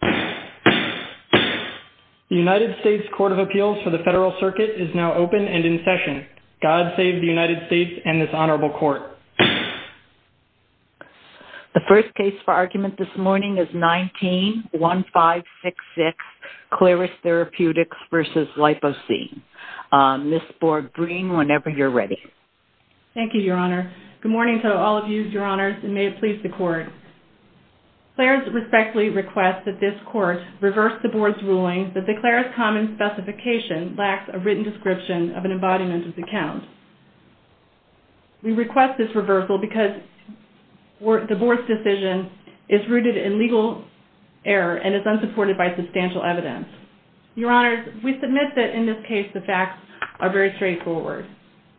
The United States Court of Appeals for the Federal Circuit is now open and in session. God save the United States and this Honorable Court. The first case for argument this morning is 19-1566, Clarus Therapeutics v. Lipocine. Ms. Borg-Green, whenever you're ready. Thank you, Your Honor. Good morning to all of you, Your Honors, and may it please the Court. Clarus respectfully requests that this Court reverse the Board's ruling that the Clarus common specification lacks a written description of an embodiment of the count. We request this reversal because the Board's decision is rooted in legal error and is unsupported by substantial evidence. Your Honors, we submit that in this case the facts are very straightforward.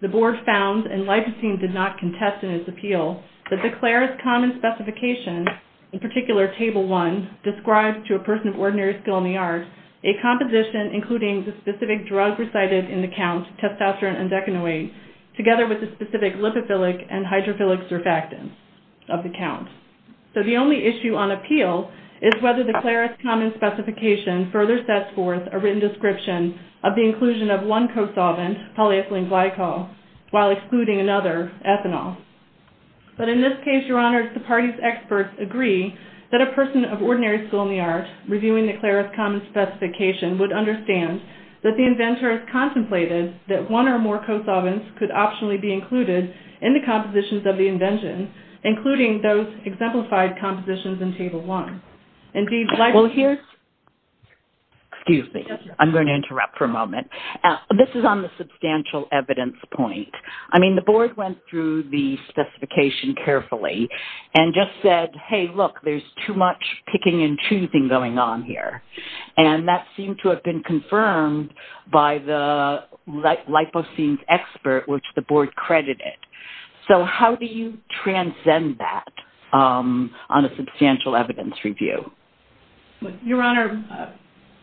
The Board found, and Lipocine did not contest in its appeal, that the Clarus common specification, in particular Table 1, describes to a person of ordinary skill in the arts a composition including the specific drug recited in the count, testosterone and decanoate, together with the specific lipophilic and hydrophilic surfactants of the count. So the only issue on appeal is whether the Clarus common specification further sets forth a written description of the inclusion of one co-solvent, polyethylene glycol, while excluding another, ethanol. But in this case, Your Honors, the Party's experts agree that a person of ordinary skill in the arts reviewing the Clarus common specification would understand that the inventor has contemplated that one or more co-solvents could optionally be included in the compositions of the invention, including those exemplified compositions in Table 1. Indeed, well, here's – excuse me, I'm going to interrupt for a moment. This is on the substantial evidence point. I mean, the Board went through the specification carefully and just said, hey, look, there's too much picking and choosing going on here. And that seemed to have been confirmed by the Lipocine's expert, which the Board credited. So how do you transcend that on a substantial evidence review? Your Honor,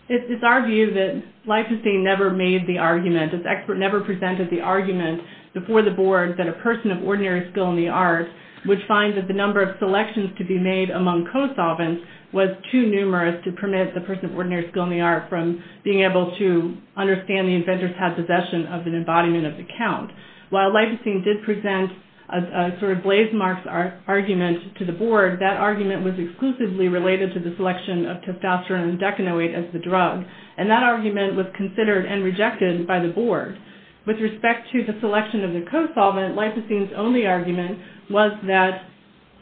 it's our view that Lipocine never made the argument, its expert never presented the argument before the Board that a person of ordinary skill in the arts would find that the number of selections to be made among co-solvents was too numerous to permit the person of ordinary skill in the arts from being able to understand the inventor's possession of an embodiment of the count. While Lipocine did present a sort of blazemarks argument to the Board, that argument was exclusively related to the selection of testosterone and decanoate as the drug. And that argument was considered and rejected by the Board. With respect to the selection of the co-solvent, Lipocine's only argument was that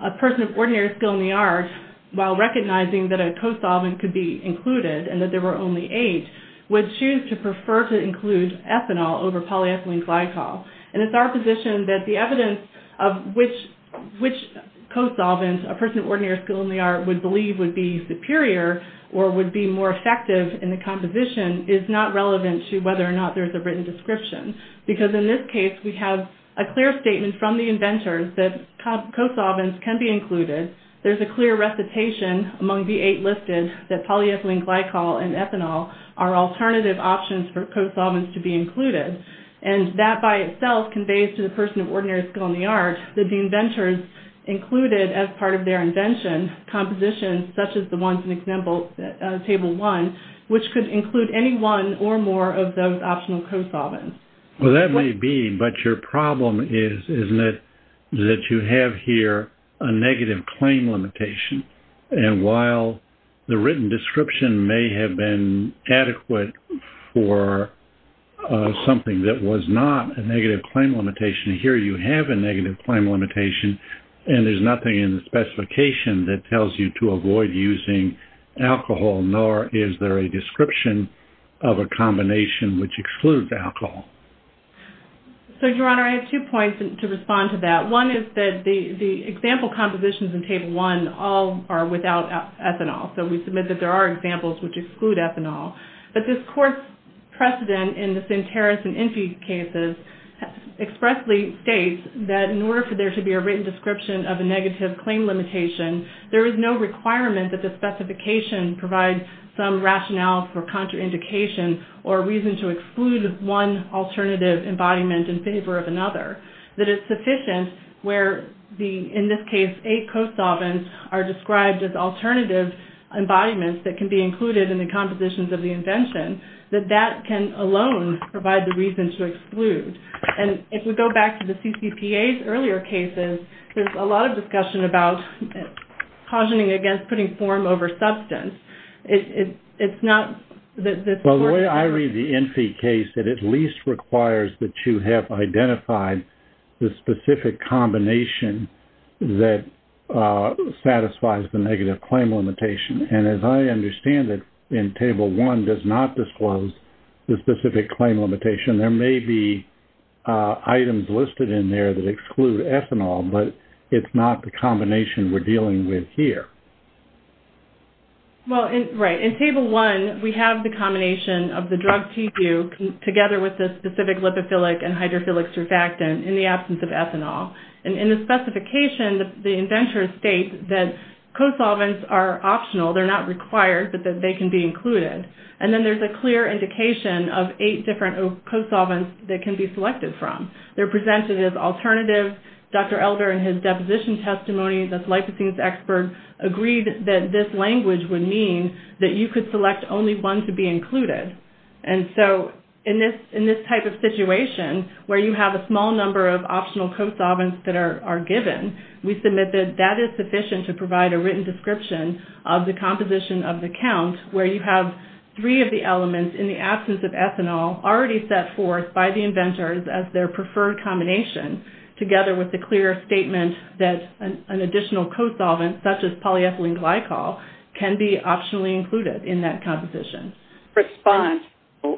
a person of ordinary skill in the arts, while recognizing that a co-solvent could be included and that there were only eight, would choose to prefer to include ethanol over polyethylene glycol. And it's our position that the evidence of which co-solvent a person of ordinary skill in the arts would believe would be superior or would be more effective in the composition is not relevant to whether or not there's a written description. Because in this case, we have a clear statement from the inventors that co-solvents can be included. There's a clear recitation among the eight listed that polyethylene glycol and ethanol are alternative options for co-solvents to be included. And that by itself conveys to the person of ordinary skill in the arts that the inventors included as part of their invention compositions such as the ones in example table one, which could include any one or more of those optional co-solvents. Well, that may be, but your problem is, isn't it, that you have here a negative claim limitation. And while the written description may have been adequate for something that was not a negative claim limitation, here you have a negative claim limitation and there's nothing in the specification that tells you to avoid using alcohol, nor is there a description of a combination which excludes alcohol. So, your Honor, I have two points to respond to that. One is that the example compositions in table one all are without ethanol. So, we submit that there are examples which exclude ethanol. But this court's precedent in the Sinteros and Enfi cases expressly states that in order for there to be a written description of a negative claim limitation, there is no requirement that the specification provide some rationale for contraindication or reason to exclude one alternative embodiment in favor of another. That it's sufficient where, in this case, eight co-solvents are described as alternative embodiments that can be included in the compositions of the invention, that that can alone provide the reason to exclude. And if we go back to the CCPA's earlier cases, there's a lot of discussion about cautioning against putting form over substance. It's not... Well, the way I read the Enfi case, it at least requires that you have identified the specific combination that satisfies the negative claim limitation. And as I understand it, in table one does not disclose the specific claim limitation. There may be items listed in there that exclude ethanol, but it's not the combination we're looking for. Well, in... Right. In table one, we have the combination of the drug TPU together with the specific lipophilic and hydrophilic surfactant in the absence of ethanol. And in the specification, the inventors state that co-solvents are optional. They're not required, but that they can be included. And then there's a clear indication of eight different co-solvents that can be selected from. They're presented as alternative. Dr. Elder, in his deposition testimony as a liposence expert, agreed that this language would mean that you could select only one to be included. And so in this type of situation where you have a small number of optional co-solvents that are given, we submit that that is sufficient to provide a written description of the composition of the count where you have three of the elements in the absence of ethanol already set forth by the inventors as their preferred combination, together with the clear statement that an additional co-solvent, such as polyethylene glycol, can be optionally included in that composition. Response.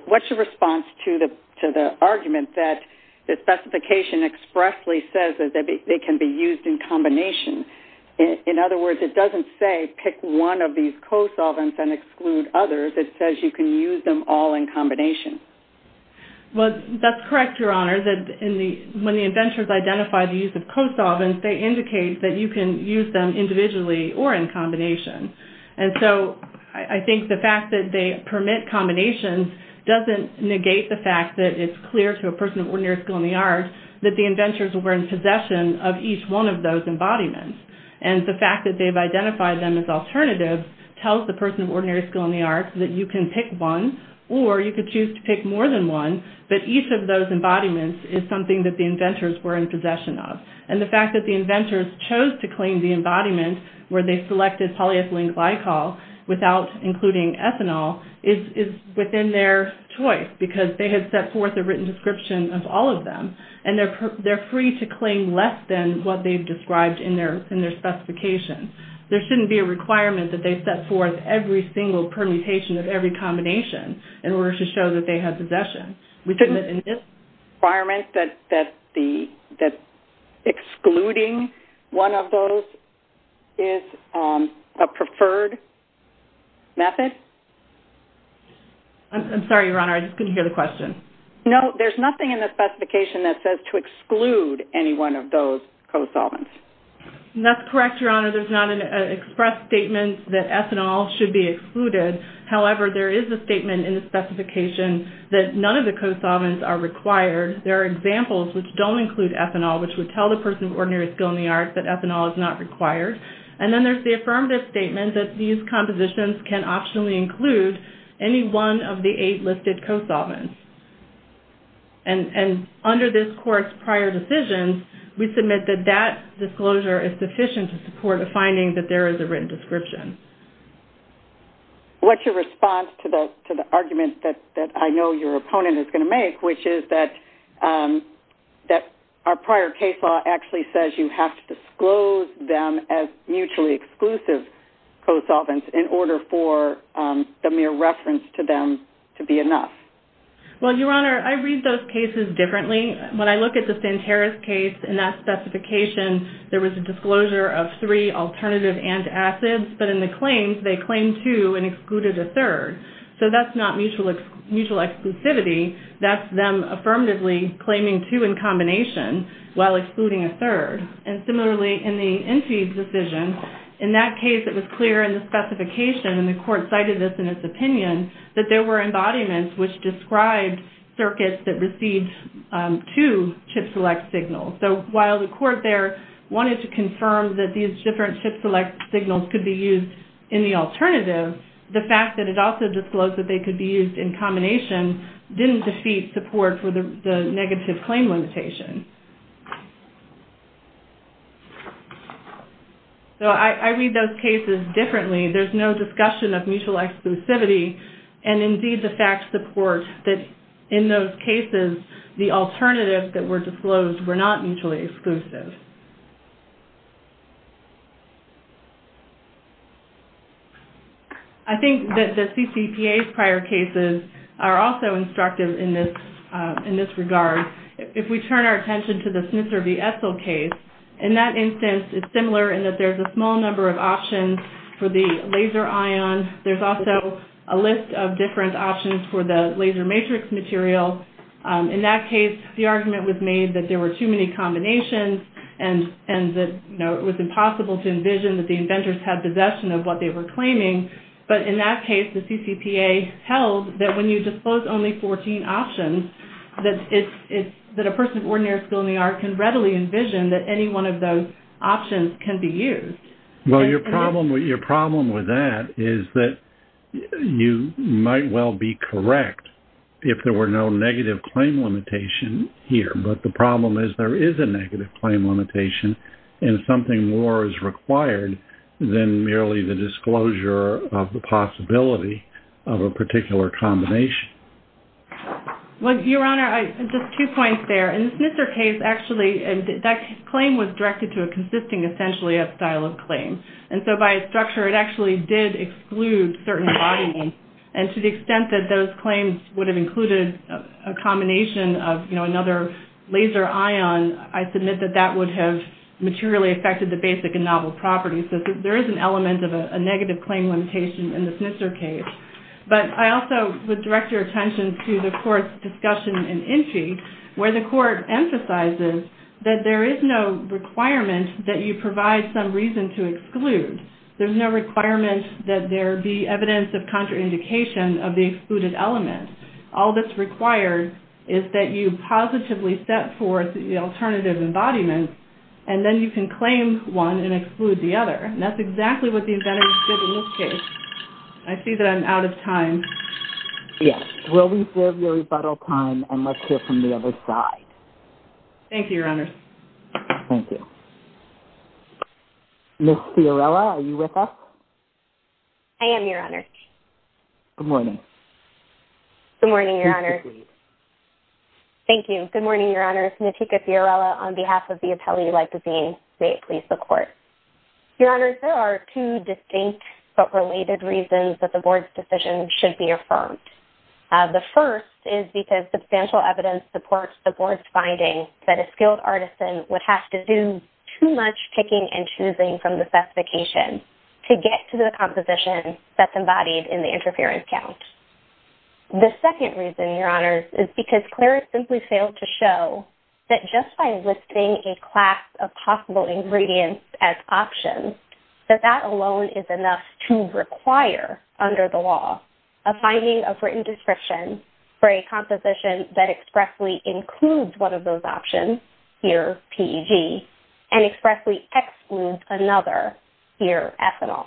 What's your response to the argument that the specification expressly says that they can be used in combination? In other words, it doesn't say pick one of these co-solvents and exclude others. It says you can use them all in combination. Well, that's correct, Your Honor, that when the inventors identify the use of co-solvents, they indicate that you can use them individually or in combination. And so I think the fact that they permit combinations doesn't negate the fact that it's clear to a person of ordinary skill in the arts that the inventors were in possession of each one of those embodiments. And the fact that they've identified them as alternatives tells the person of ordinary skill in the arts that you can pick one or you could choose to pick more than one, but each of those embodiments is something that the inventors were in possession of. And the fact that the inventors chose to claim the embodiment where they selected polyethylene glycol without including ethanol is within their choice because they had set forth a written description of all of them. And they're free to claim less than what they've described in their specification. There shouldn't be a requirement that they set forth every single permutation of every combination in order to show that they had possession. We couldn't admit in this requirement that excluding one of those is a preferred method? I'm sorry, Your Honor, I just couldn't hear the question. No, there's nothing in the specification that says to exclude any one of those co-solvents. That's correct, Your Honor. There's not an express statement that ethanol should be excluded. However, there is a statement in the specification that none of the co-solvents are required. There are examples which don't include ethanol, which would tell the person of ordinary skill in the arts that ethanol is not required. And then there's the affirmative statement that these compositions can optionally include any one of the eight listed co-solvents. And under this court's prior decisions, we submit that that disclosure is sufficient to support a finding that there is a written description. What's your response to the argument that I know your opponent is going to make, which is that our prior case law actually says you have to disclose them as mutually exclusive co-solvents in order for the mere reference to them to be enough? Well, Your Honor, I read those cases differently. When I look at the St. Harris case, in that specification, there was a disclosure of three alternative antacids, but in the claims, they claimed two and excluded a third. So that's not mutual exclusivity. That's them affirmatively claiming two in combination while excluding a third. And similarly, in the Enfield decision, in that case, it was clear in the specification and the court cited this in its opinion that there were embodiments which described circuits that received two ChIP-select signals. So while the court there wanted to confirm that these different ChIP-select signals could be used in the alternative, the fact that it also disclosed that they could be used in combination didn't defeat support for the negative claim limitation. So I read those cases differently. There's no discussion of mutual exclusivity. And indeed, the facts support that in those cases, the alternatives that were disclosed were not mutually exclusive. I think that the CCPA's prior cases are also instructive in this regard. If we turn our attention to the Snitzer v. Essel case, in that instance, it's similar in that there's a small number of options for the laser ion. There's also a list of different options for the laser matrix material. In that case, the argument was made that there were too many combinations and that it was impossible to envision that the inventors had possession of what they were claiming. But in that case, the CCPA held that when you disclose only 14 options, that a person of ordinary skill in the art can readily envision that any one of those options can be used. Well, your problem with that is that you might well be correct if there were no negative claim limitation here. But the problem is there is a negative claim limitation. And something more is required than merely the disclosure of the possibility of a particular combination. Well, your Honor, just two points there. In the Snitzer case, actually, that claim was directed to a consisting essentially of style of claim. And so by its structure, it actually did exclude certain embodiments. And to the extent that those claims would have included a combination of, you know, another laser ion, I submit that that would have materially affected the basic and novel properties. So there is an element of a negative claim limitation in the Snitzer case. But I also would direct your attention to the Court's discussion in Inti, where the Court emphasizes that there is no requirement that you provide some reason to exclude. There's no requirement that there be evidence of contraindication of the excluded element. All that's required is that you positively set forth the alternative embodiment, and then you can claim one and exclude the other. And that's exactly what the inventors did in this case. I see that I'm out of time. Yes. We'll reserve your rebuttal time, and let's hear from the other side. Thank you, Your Honor. Thank you. Ms. Fiorella, are you with us? I am, Your Honor. Good morning. Good morning, Your Honor. Please proceed. Thank you. Good morning, Your Honor. Natika Fiorella on behalf of the Appellee Lipozyne. May it please the Court. Your Honor, there are two distinct but related reasons that the Board's decision should be affirmed. The first is because substantial evidence supports the Board's finding that a skilled artisan would have to do too much picking and choosing from the specifications to get to the composition that's embodied in the interference count. The second reason, Your Honor, is because Clare has simply failed to show that just by listing a class of possible ingredients as options, that that alone is enough to require under the law a finding of written description for a composition that expressly includes one of those options, here, PEG, and expressly excludes another, here, ethanol.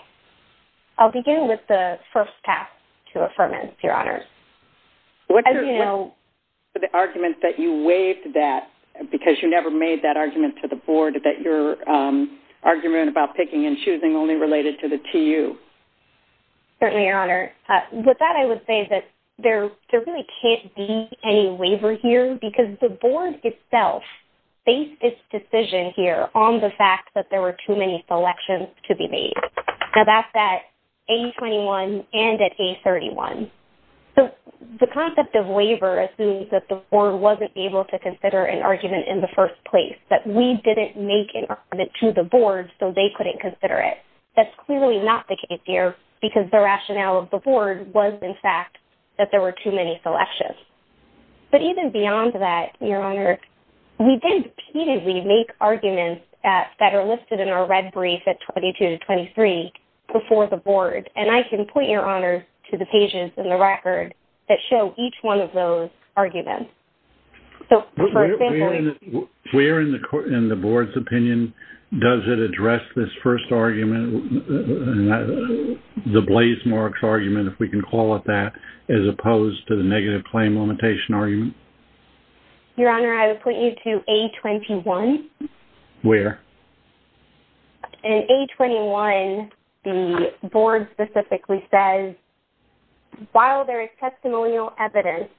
I'll begin with the first path to affirmance, Your Honor. As you know... The argument that you waived that because you never made that argument to the Board that your argument about picking and choosing only related to the TU. Certainly, Your Honor. With that, I would say that there really can't be any waiver here because the Board itself faced this decision, here, on the fact that there were too many selections to be made. Now, that's at A21 and at A31. So, the concept of waiver assumes that the Board wasn't able to consider an argument in the first place, that we didn't make an argument to the Board so they couldn't consider it. That's clearly not the case, here, because the rationale of the Board was, in fact, that there were too many selections. But even beyond that, Your Honor, we then repeatedly make arguments that are listed in our red brief at 22 to 23 before the Board. And I can point, Your Honor, to the pages in the record that show each one of those arguments. So, for example... So, where in the Board's opinion does it address this first argument, the blaze marks argument, if we can call it that, as opposed to the negative claim limitation argument? Your Honor, I would point you to A21. Where? In A21, the Board specifically says, while there is testimonial evidence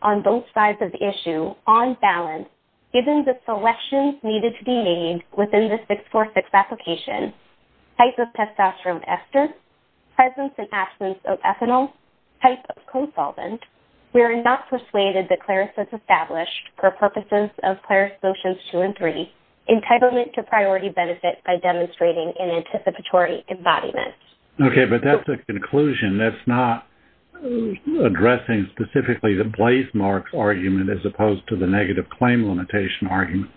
on both sides of the issue, on balance, given the selections needed to be made within the 646 application, type of testosterone ester, presence and absence of ethanol, type of co-solvent, we are not persuaded that CLARIS was established for purposes of CLARIS Motions 2 and 3, entitlement to priority benefit by demonstrating an anticipatory embodiment. Okay. But that's the conclusion. That's not addressing specifically the blaze marks argument as opposed to the negative claim limitation argument.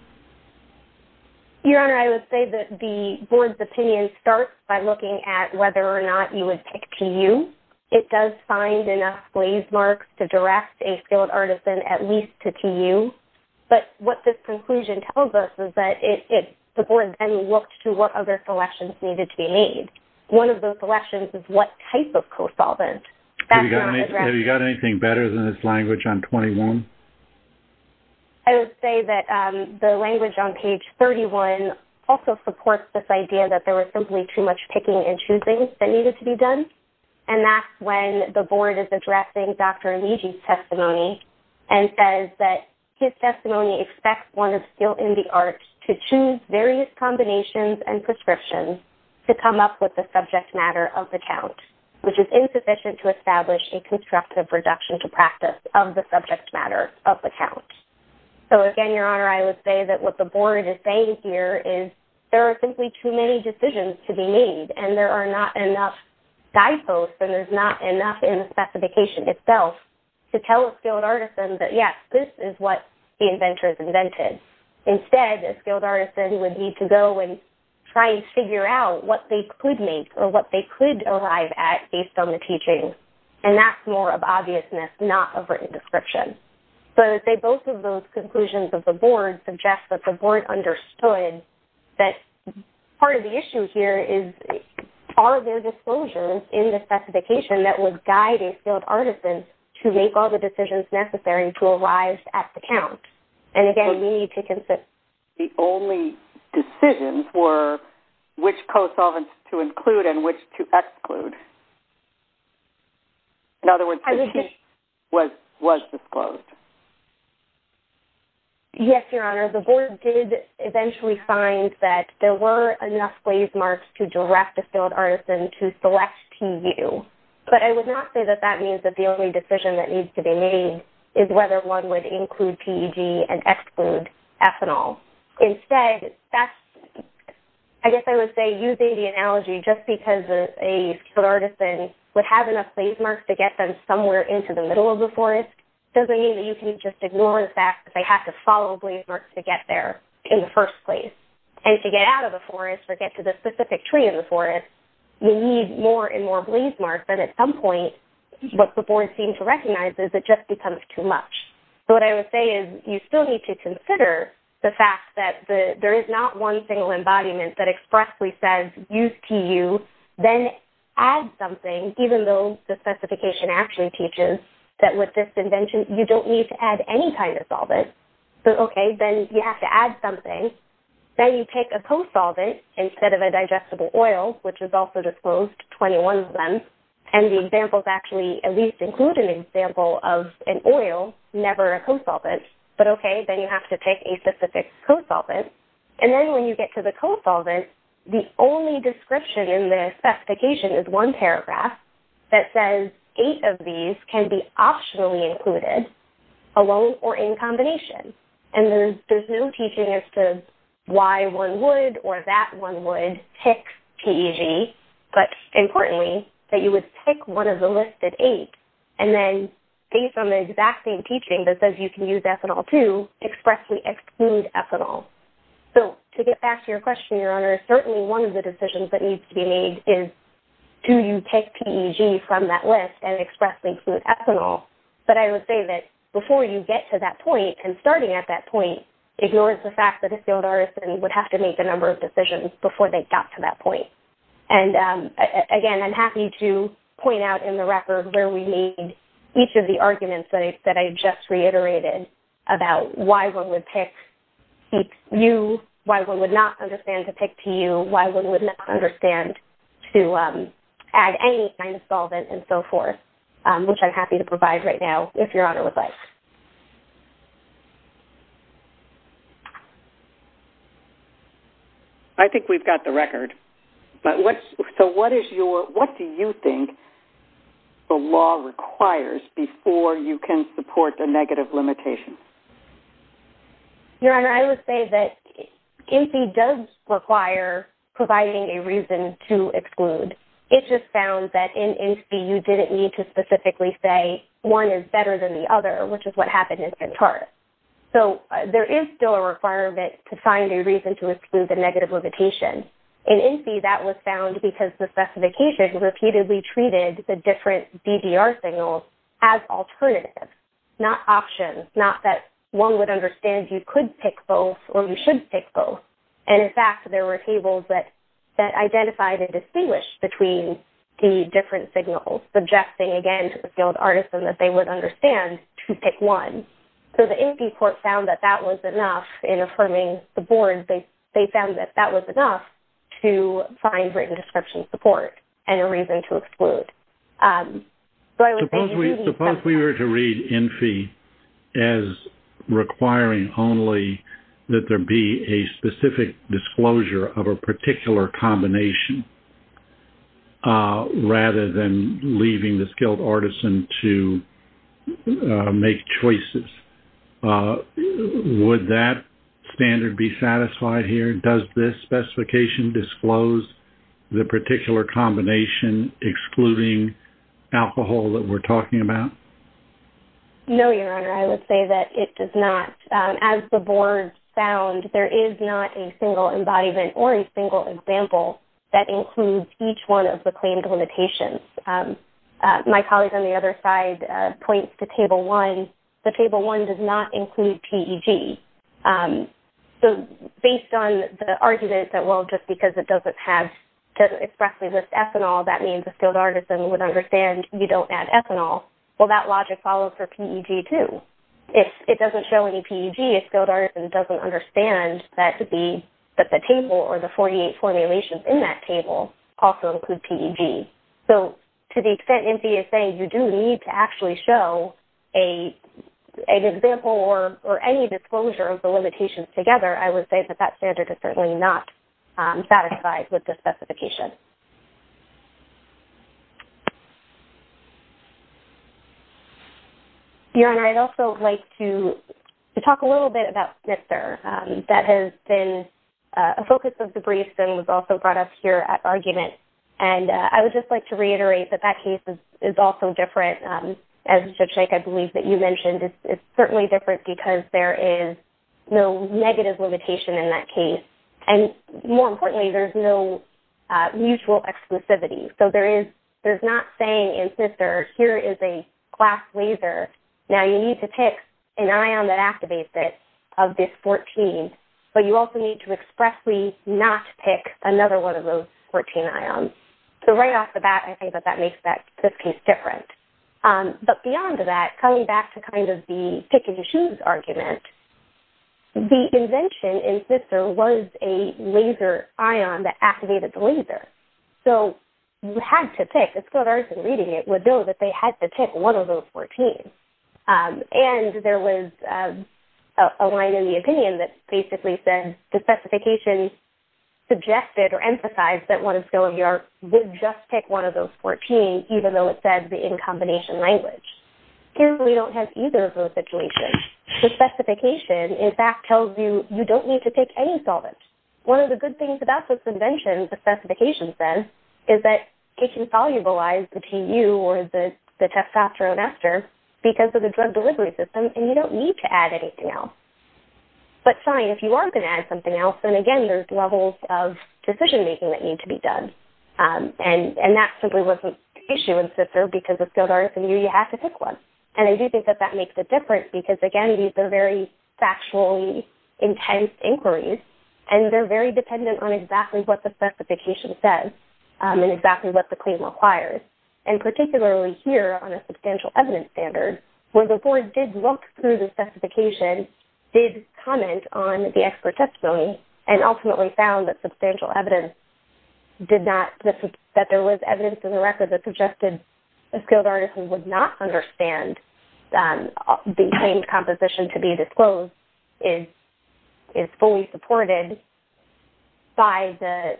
Your Honor, I would say that the Board's opinion starts by looking at whether or not you would pick TU. It does find enough blaze marks to direct a skilled artisan at least to TU. But what this conclusion tells us is that the Board then looked to what other selections needed to be made. One of those selections is what type of co-solvent. Have you got anything better than this language on A21? I would say that the language on page 31 also supports this idea that there was simply too much picking and choosing that needed to be done. And that's when the Board is addressing Dr. Aligi's testimony and says that his testimony expects one of skilled in the arts to choose various combinations and prescriptions to come up with the subject matter of the count, which is insufficient to establish a constructive reduction to practice of the subject matter of the count. So again, Your Honor, I would say that what the Board is saying here is there are simply too many decisions to be made. And there are not enough guideposts and there's not enough in the specification itself to tell a skilled artisan that, yes, this is what the inventor has invented. Instead, a skilled artisan would need to go and try and figure out what they could make or what they could arrive at based on the teaching. And that's more of obviousness, not a written description. So I would say both of those conclusions of the Board suggest that the Board understood that part of the issue here is are there disclosures in the specification that would guide a skilled artisan to make all the decisions necessary to arrive at the count? And again, we need to consider... The only decisions were which co-solvents to include and which to exclude. In other words, the key was disclosed. Yes, Your Honor. The Board did eventually find that there were enough glaze marks to direct a skilled artisan to select TU. But I would not say that that means that the only decision that needs to be made is whether one would include PEG and exclude ethanol. Instead, that's... I guess I would say using the analogy just because a skilled artisan would have enough glaze marks to get them somewhere into the middle of the forest doesn't mean that you can just ignore the fact that they have to follow glaze marks to get there in the first place. And to get out of the forest or get to the specific tree in the forest, you need more and more glaze marks. And at some point, what the Board seemed to recognize is it just becomes too much. So what I would say is you still need to consider the fact that there is not one single embodiment that expressly says, use TU, then add something, even though the specification actually teaches that with this invention, you don't need to add any kind of solvent. But okay, then you have to add something. Then you take a co-solvent instead of a digestible oil, which is also disclosed, 21 of them, and the examples actually at least include an example of an oil, never a co-solvent. But okay, then you have to take a specific co-solvent. And then when you get to the co-solvent, the only description in the specification is one paragraph that says eight of these can be optionally included alone or in combination. And there's no teaching as to why one would or that one would pick PEG. But importantly, that you would pick one of the listed eight. And then based on the exact same teaching that says you can use ethanol too, expressly exclude ethanol. So to get back to your question, Your Honor, certainly one of the decisions that needs to be made is do you pick PEG from that list and expressly exclude ethanol? But I would say that before you get to that point and starting at that point, ignore the fact that a skilled artisan would have to make a number of decisions before they got to that point. And, again, I'm happy to point out in the record where we made each of the arguments that I just reiterated about why one would pick PEG, why one would not understand to pick PEG, why one would not understand to add any kind of solvent and so forth, which I'm happy to provide right now if Your Honor would like. I think we've got the record. So what do you think the law requires before you can support a negative limitation? Your Honor, I would say that INSEE does require providing a reason to exclude. It just found that in INSEE you didn't need to specifically say one is better than the other, which is what happened in this chart. So there is still a requirement to find a reason to exclude the negative limitation. In INSEE that was found because the specification repeatedly treated the different BGR signals as alternatives, not options, not that one would understand you could pick both or you should pick both. And, in fact, there were tables that identified and distinguished between the different signals, suggesting, again, to the skilled artisan that they would understand to pick one. So the INSEE court found that that was enough in affirming the board. They found that that was enough to find written description support and a reason to exclude. Suppose we were to read INSEE as requiring only that there be a specific disclosure of a particular combination rather than leaving the skilled artisan to make choices. Would that standard be satisfied here? Does this specification disclose the particular combination excluding alcohol that we're talking about? No, Your Honor. I would say that it does not. As the board found, there is not a single embodiment or a single example that includes each one of the claimed limitations. My colleague on the other side points to Table 1. The Table 1 does not include PEG. So based on the argument that, well, just because it doesn't expressly list ethanol, that means a skilled artisan would understand you don't add ethanol. Well, that logic follows for PEG, too. If it doesn't show any PEG, a skilled artisan doesn't understand that the table or the 48 formulations in that table also include PEG. So to the extent INSEE is saying you do need to actually show an example or any disclosure of the limitations together, I would say that that standard is certainly not satisfied with this specification. Your Honor, I'd also like to talk a little bit about Snitzer. That has been a focus of the briefs and was also brought up here at argument. And I would just like to reiterate that that case is also different. As Judge Naik, I believe that you mentioned, it's certainly different because there is no negative limitation in that case. And more importantly, there's no mutual exclusivity. So there's not saying in Snitzer, here is a glass laser. Now, you need to pick an ion that activates it of this 14, but you also need to expressly not pick another one of those 14 ions. So right off the bat, I think that that makes this case different. But beyond that, coming back to kind of the pick-and-choose argument, the invention in Snitzer was a laser ion that activated the laser. So you had to pick. The skilled artist in reading it would know that they had to pick one of those 14. And there was a line in the opinion that basically said the specification suggested or emphasized that one of the skilled artists would just pick one of those 14, even though it said the in-combination language. Here, we don't have either of those situations. The specification, in fact, tells you you don't need to pick any solvent. One of the good things about this invention, the specification says, is that it can solubilize the TU or the testosterone ester because of the drug delivery system, and you don't need to add anything else. But fine, if you are going to add something else, then again, there's levels of decision making that need to be done. And that simply wasn't an issue in Snitzer because the skilled artist in you, you had to pick one. And I do think that that makes a difference because, again, these are very factually intense inquiries, and they're very dependent on exactly what the specification says and exactly what the claim requires. And particularly here on a substantial evidence standard, where the board did look through the specification, did comment on the expert testimony, and ultimately found that substantial evidence did not, that there was evidence in the record that suggested the skilled artist who would not understand the claimed composition to be disclosed is fully supported by the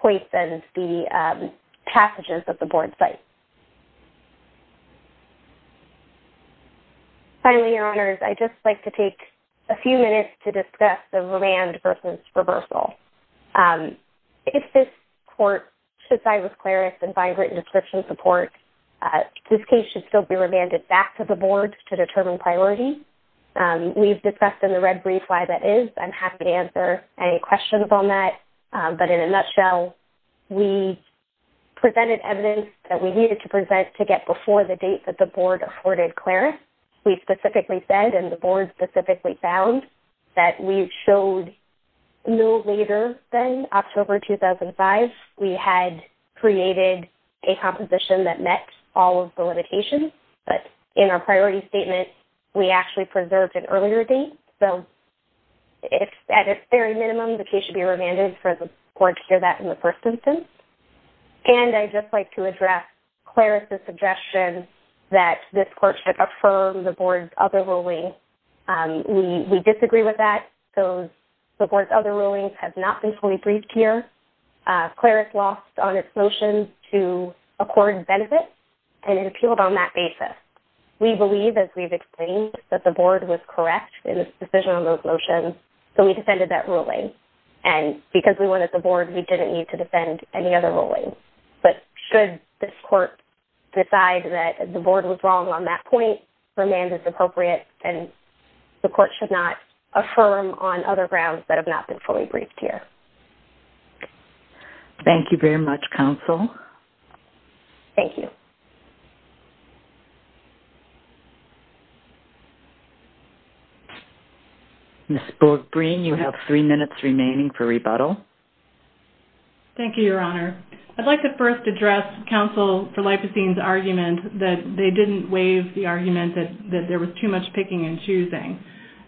place and the passages of the board site. Finally, Your Honors, I'd just like to take a few minutes to discuss the verand versus reversal. If this court should side with Claris and find written description support, this case should still be remanded back to the board to determine priority. We've discussed in the red brief why that is. I'm happy to answer any questions on that. But in a nutshell, we presented evidence that we needed to present to get before the date that the board afforded Claris. We specifically said, and the board specifically found, that we showed no later than October 2005. We had created a composition that met all of the limitations. But in our priority statement, we actually preserved an earlier date. So at its very minimum, the case should be remanded for the court to hear that in the first instance. And I'd just like to address Claris' suggestion that this court should affirm the board's other ruling. We disagree with that. The board's other rulings have not been fully briefed here. Claris lost on its motion to accord benefit, and it appealed on that basis. We believe, as we've explained, that the board was correct in its decision on those motions. So we defended that ruling. And because we wanted the board, we didn't need to defend any other ruling. But should this court decide that the board was wrong on that point, remand is appropriate. And the court should not affirm on other grounds that have not been fully briefed here. Thank you very much, counsel. Thank you. Ms. Borg-Green, you have three minutes remaining for rebuttal. Thank you, Your Honor. I'd like to first address counsel for Lipocene's argument that they didn't waive the argument that there was too much picking and choosing.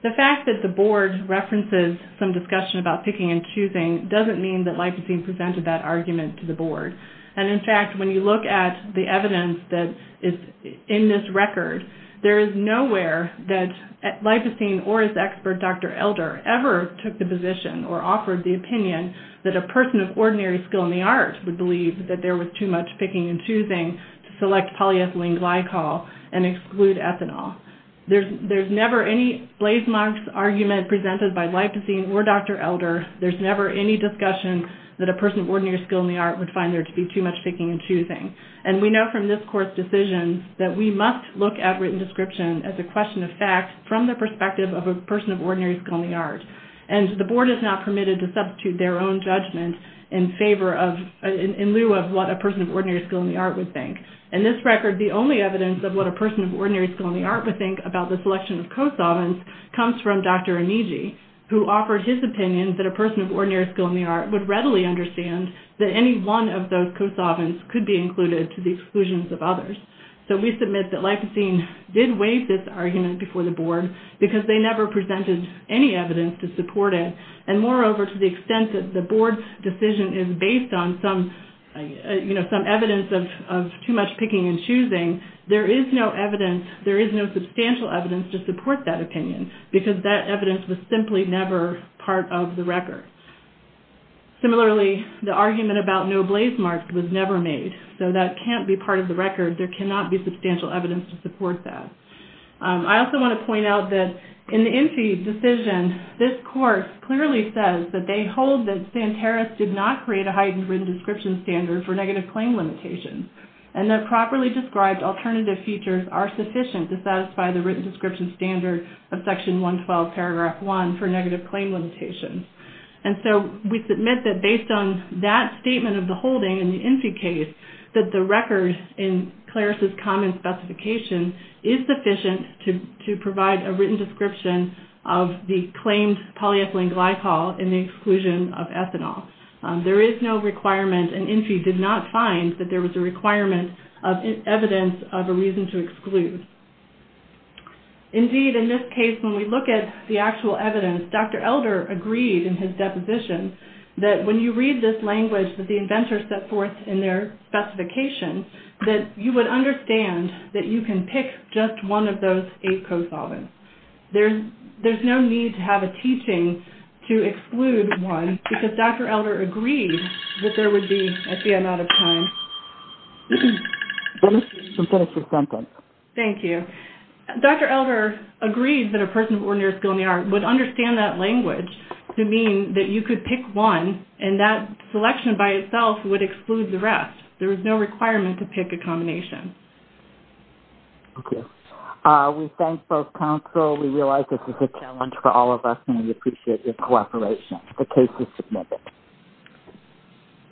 The fact that the board references some discussion about picking and choosing doesn't mean that Lipocene presented that argument to the board. There is no evidence that is in this record. There is nowhere that Lipocene or his expert, Dr. Elder, ever took the position or offered the opinion that a person of ordinary skill in the art would believe that there was too much picking and choosing to select polyethylene glycol and exclude ethanol. There's never any blazemarks argument presented by Lipocene or Dr. Elder. There's never any discussion that a person of ordinary skill in the art would find there to be too much picking and choosing. And we know from this court's decision that we must look at written description as a question of fact from the perspective of a person of ordinary skill in the art. And the board is not permitted to substitute their own judgment in favor of, in lieu of what a person of ordinary skill in the art would think. In this record, the only evidence of what a person of ordinary skill in the art would think about the selection of co-solvents comes from Dr. Onigi, who offered his opinion that a person of ordinary skill in the art would readily understand that any one of those co-solvents could be included to the exclusions of others. So we submit that Lipocene did waive this argument before the board because they never presented any evidence to support it. And moreover, to the extent that the board's decision is based on some, you know, some evidence of too much picking and choosing, there is no evidence, there is no substantial evidence to support that opinion because that evidence was simply never part of the record. Similarly, the argument about no blaze marks was never made. So that can't be part of the record. There cannot be substantial evidence to support that. I also want to point out that in the Enfield decision, this course clearly says that they hold that Santeros did not create a heightened written description standard for negative claim limitations. And the properly described alternative features are sufficient to satisfy the written description standard of Section 112, Paragraph 1 for negative claim limitations. And so we submit that based on that statement of the holding in the Enfield case, that the record in Claris' comment specification is sufficient to provide a written description of the claimed polyethylene glycol in the exclusion of ethanol. There is no requirement, and Enfield did not find that there was a requirement of evidence of a reason to exclude. Indeed, in this case, when we look at the actual evidence, Dr. Elder agreed in his deposition that when you read this language that the inventor set forth in their specification, that you would understand that you can pick just one of those eight co-solvents. There's no need to have a teaching to exclude one because Dr. Elder agreed that there would be a fear amount of time. You can finish your sentence. Thank you. Dr. Elder agreed that a person of ordinary skill in the art would understand that language to mean that you could pick one, and that selection by itself would exclude the rest. There was no requirement to pick a combination. Thank you. We thank both counsel. We realize this is a challenge for all of us, and we appreciate your cooperation. The case is submitted.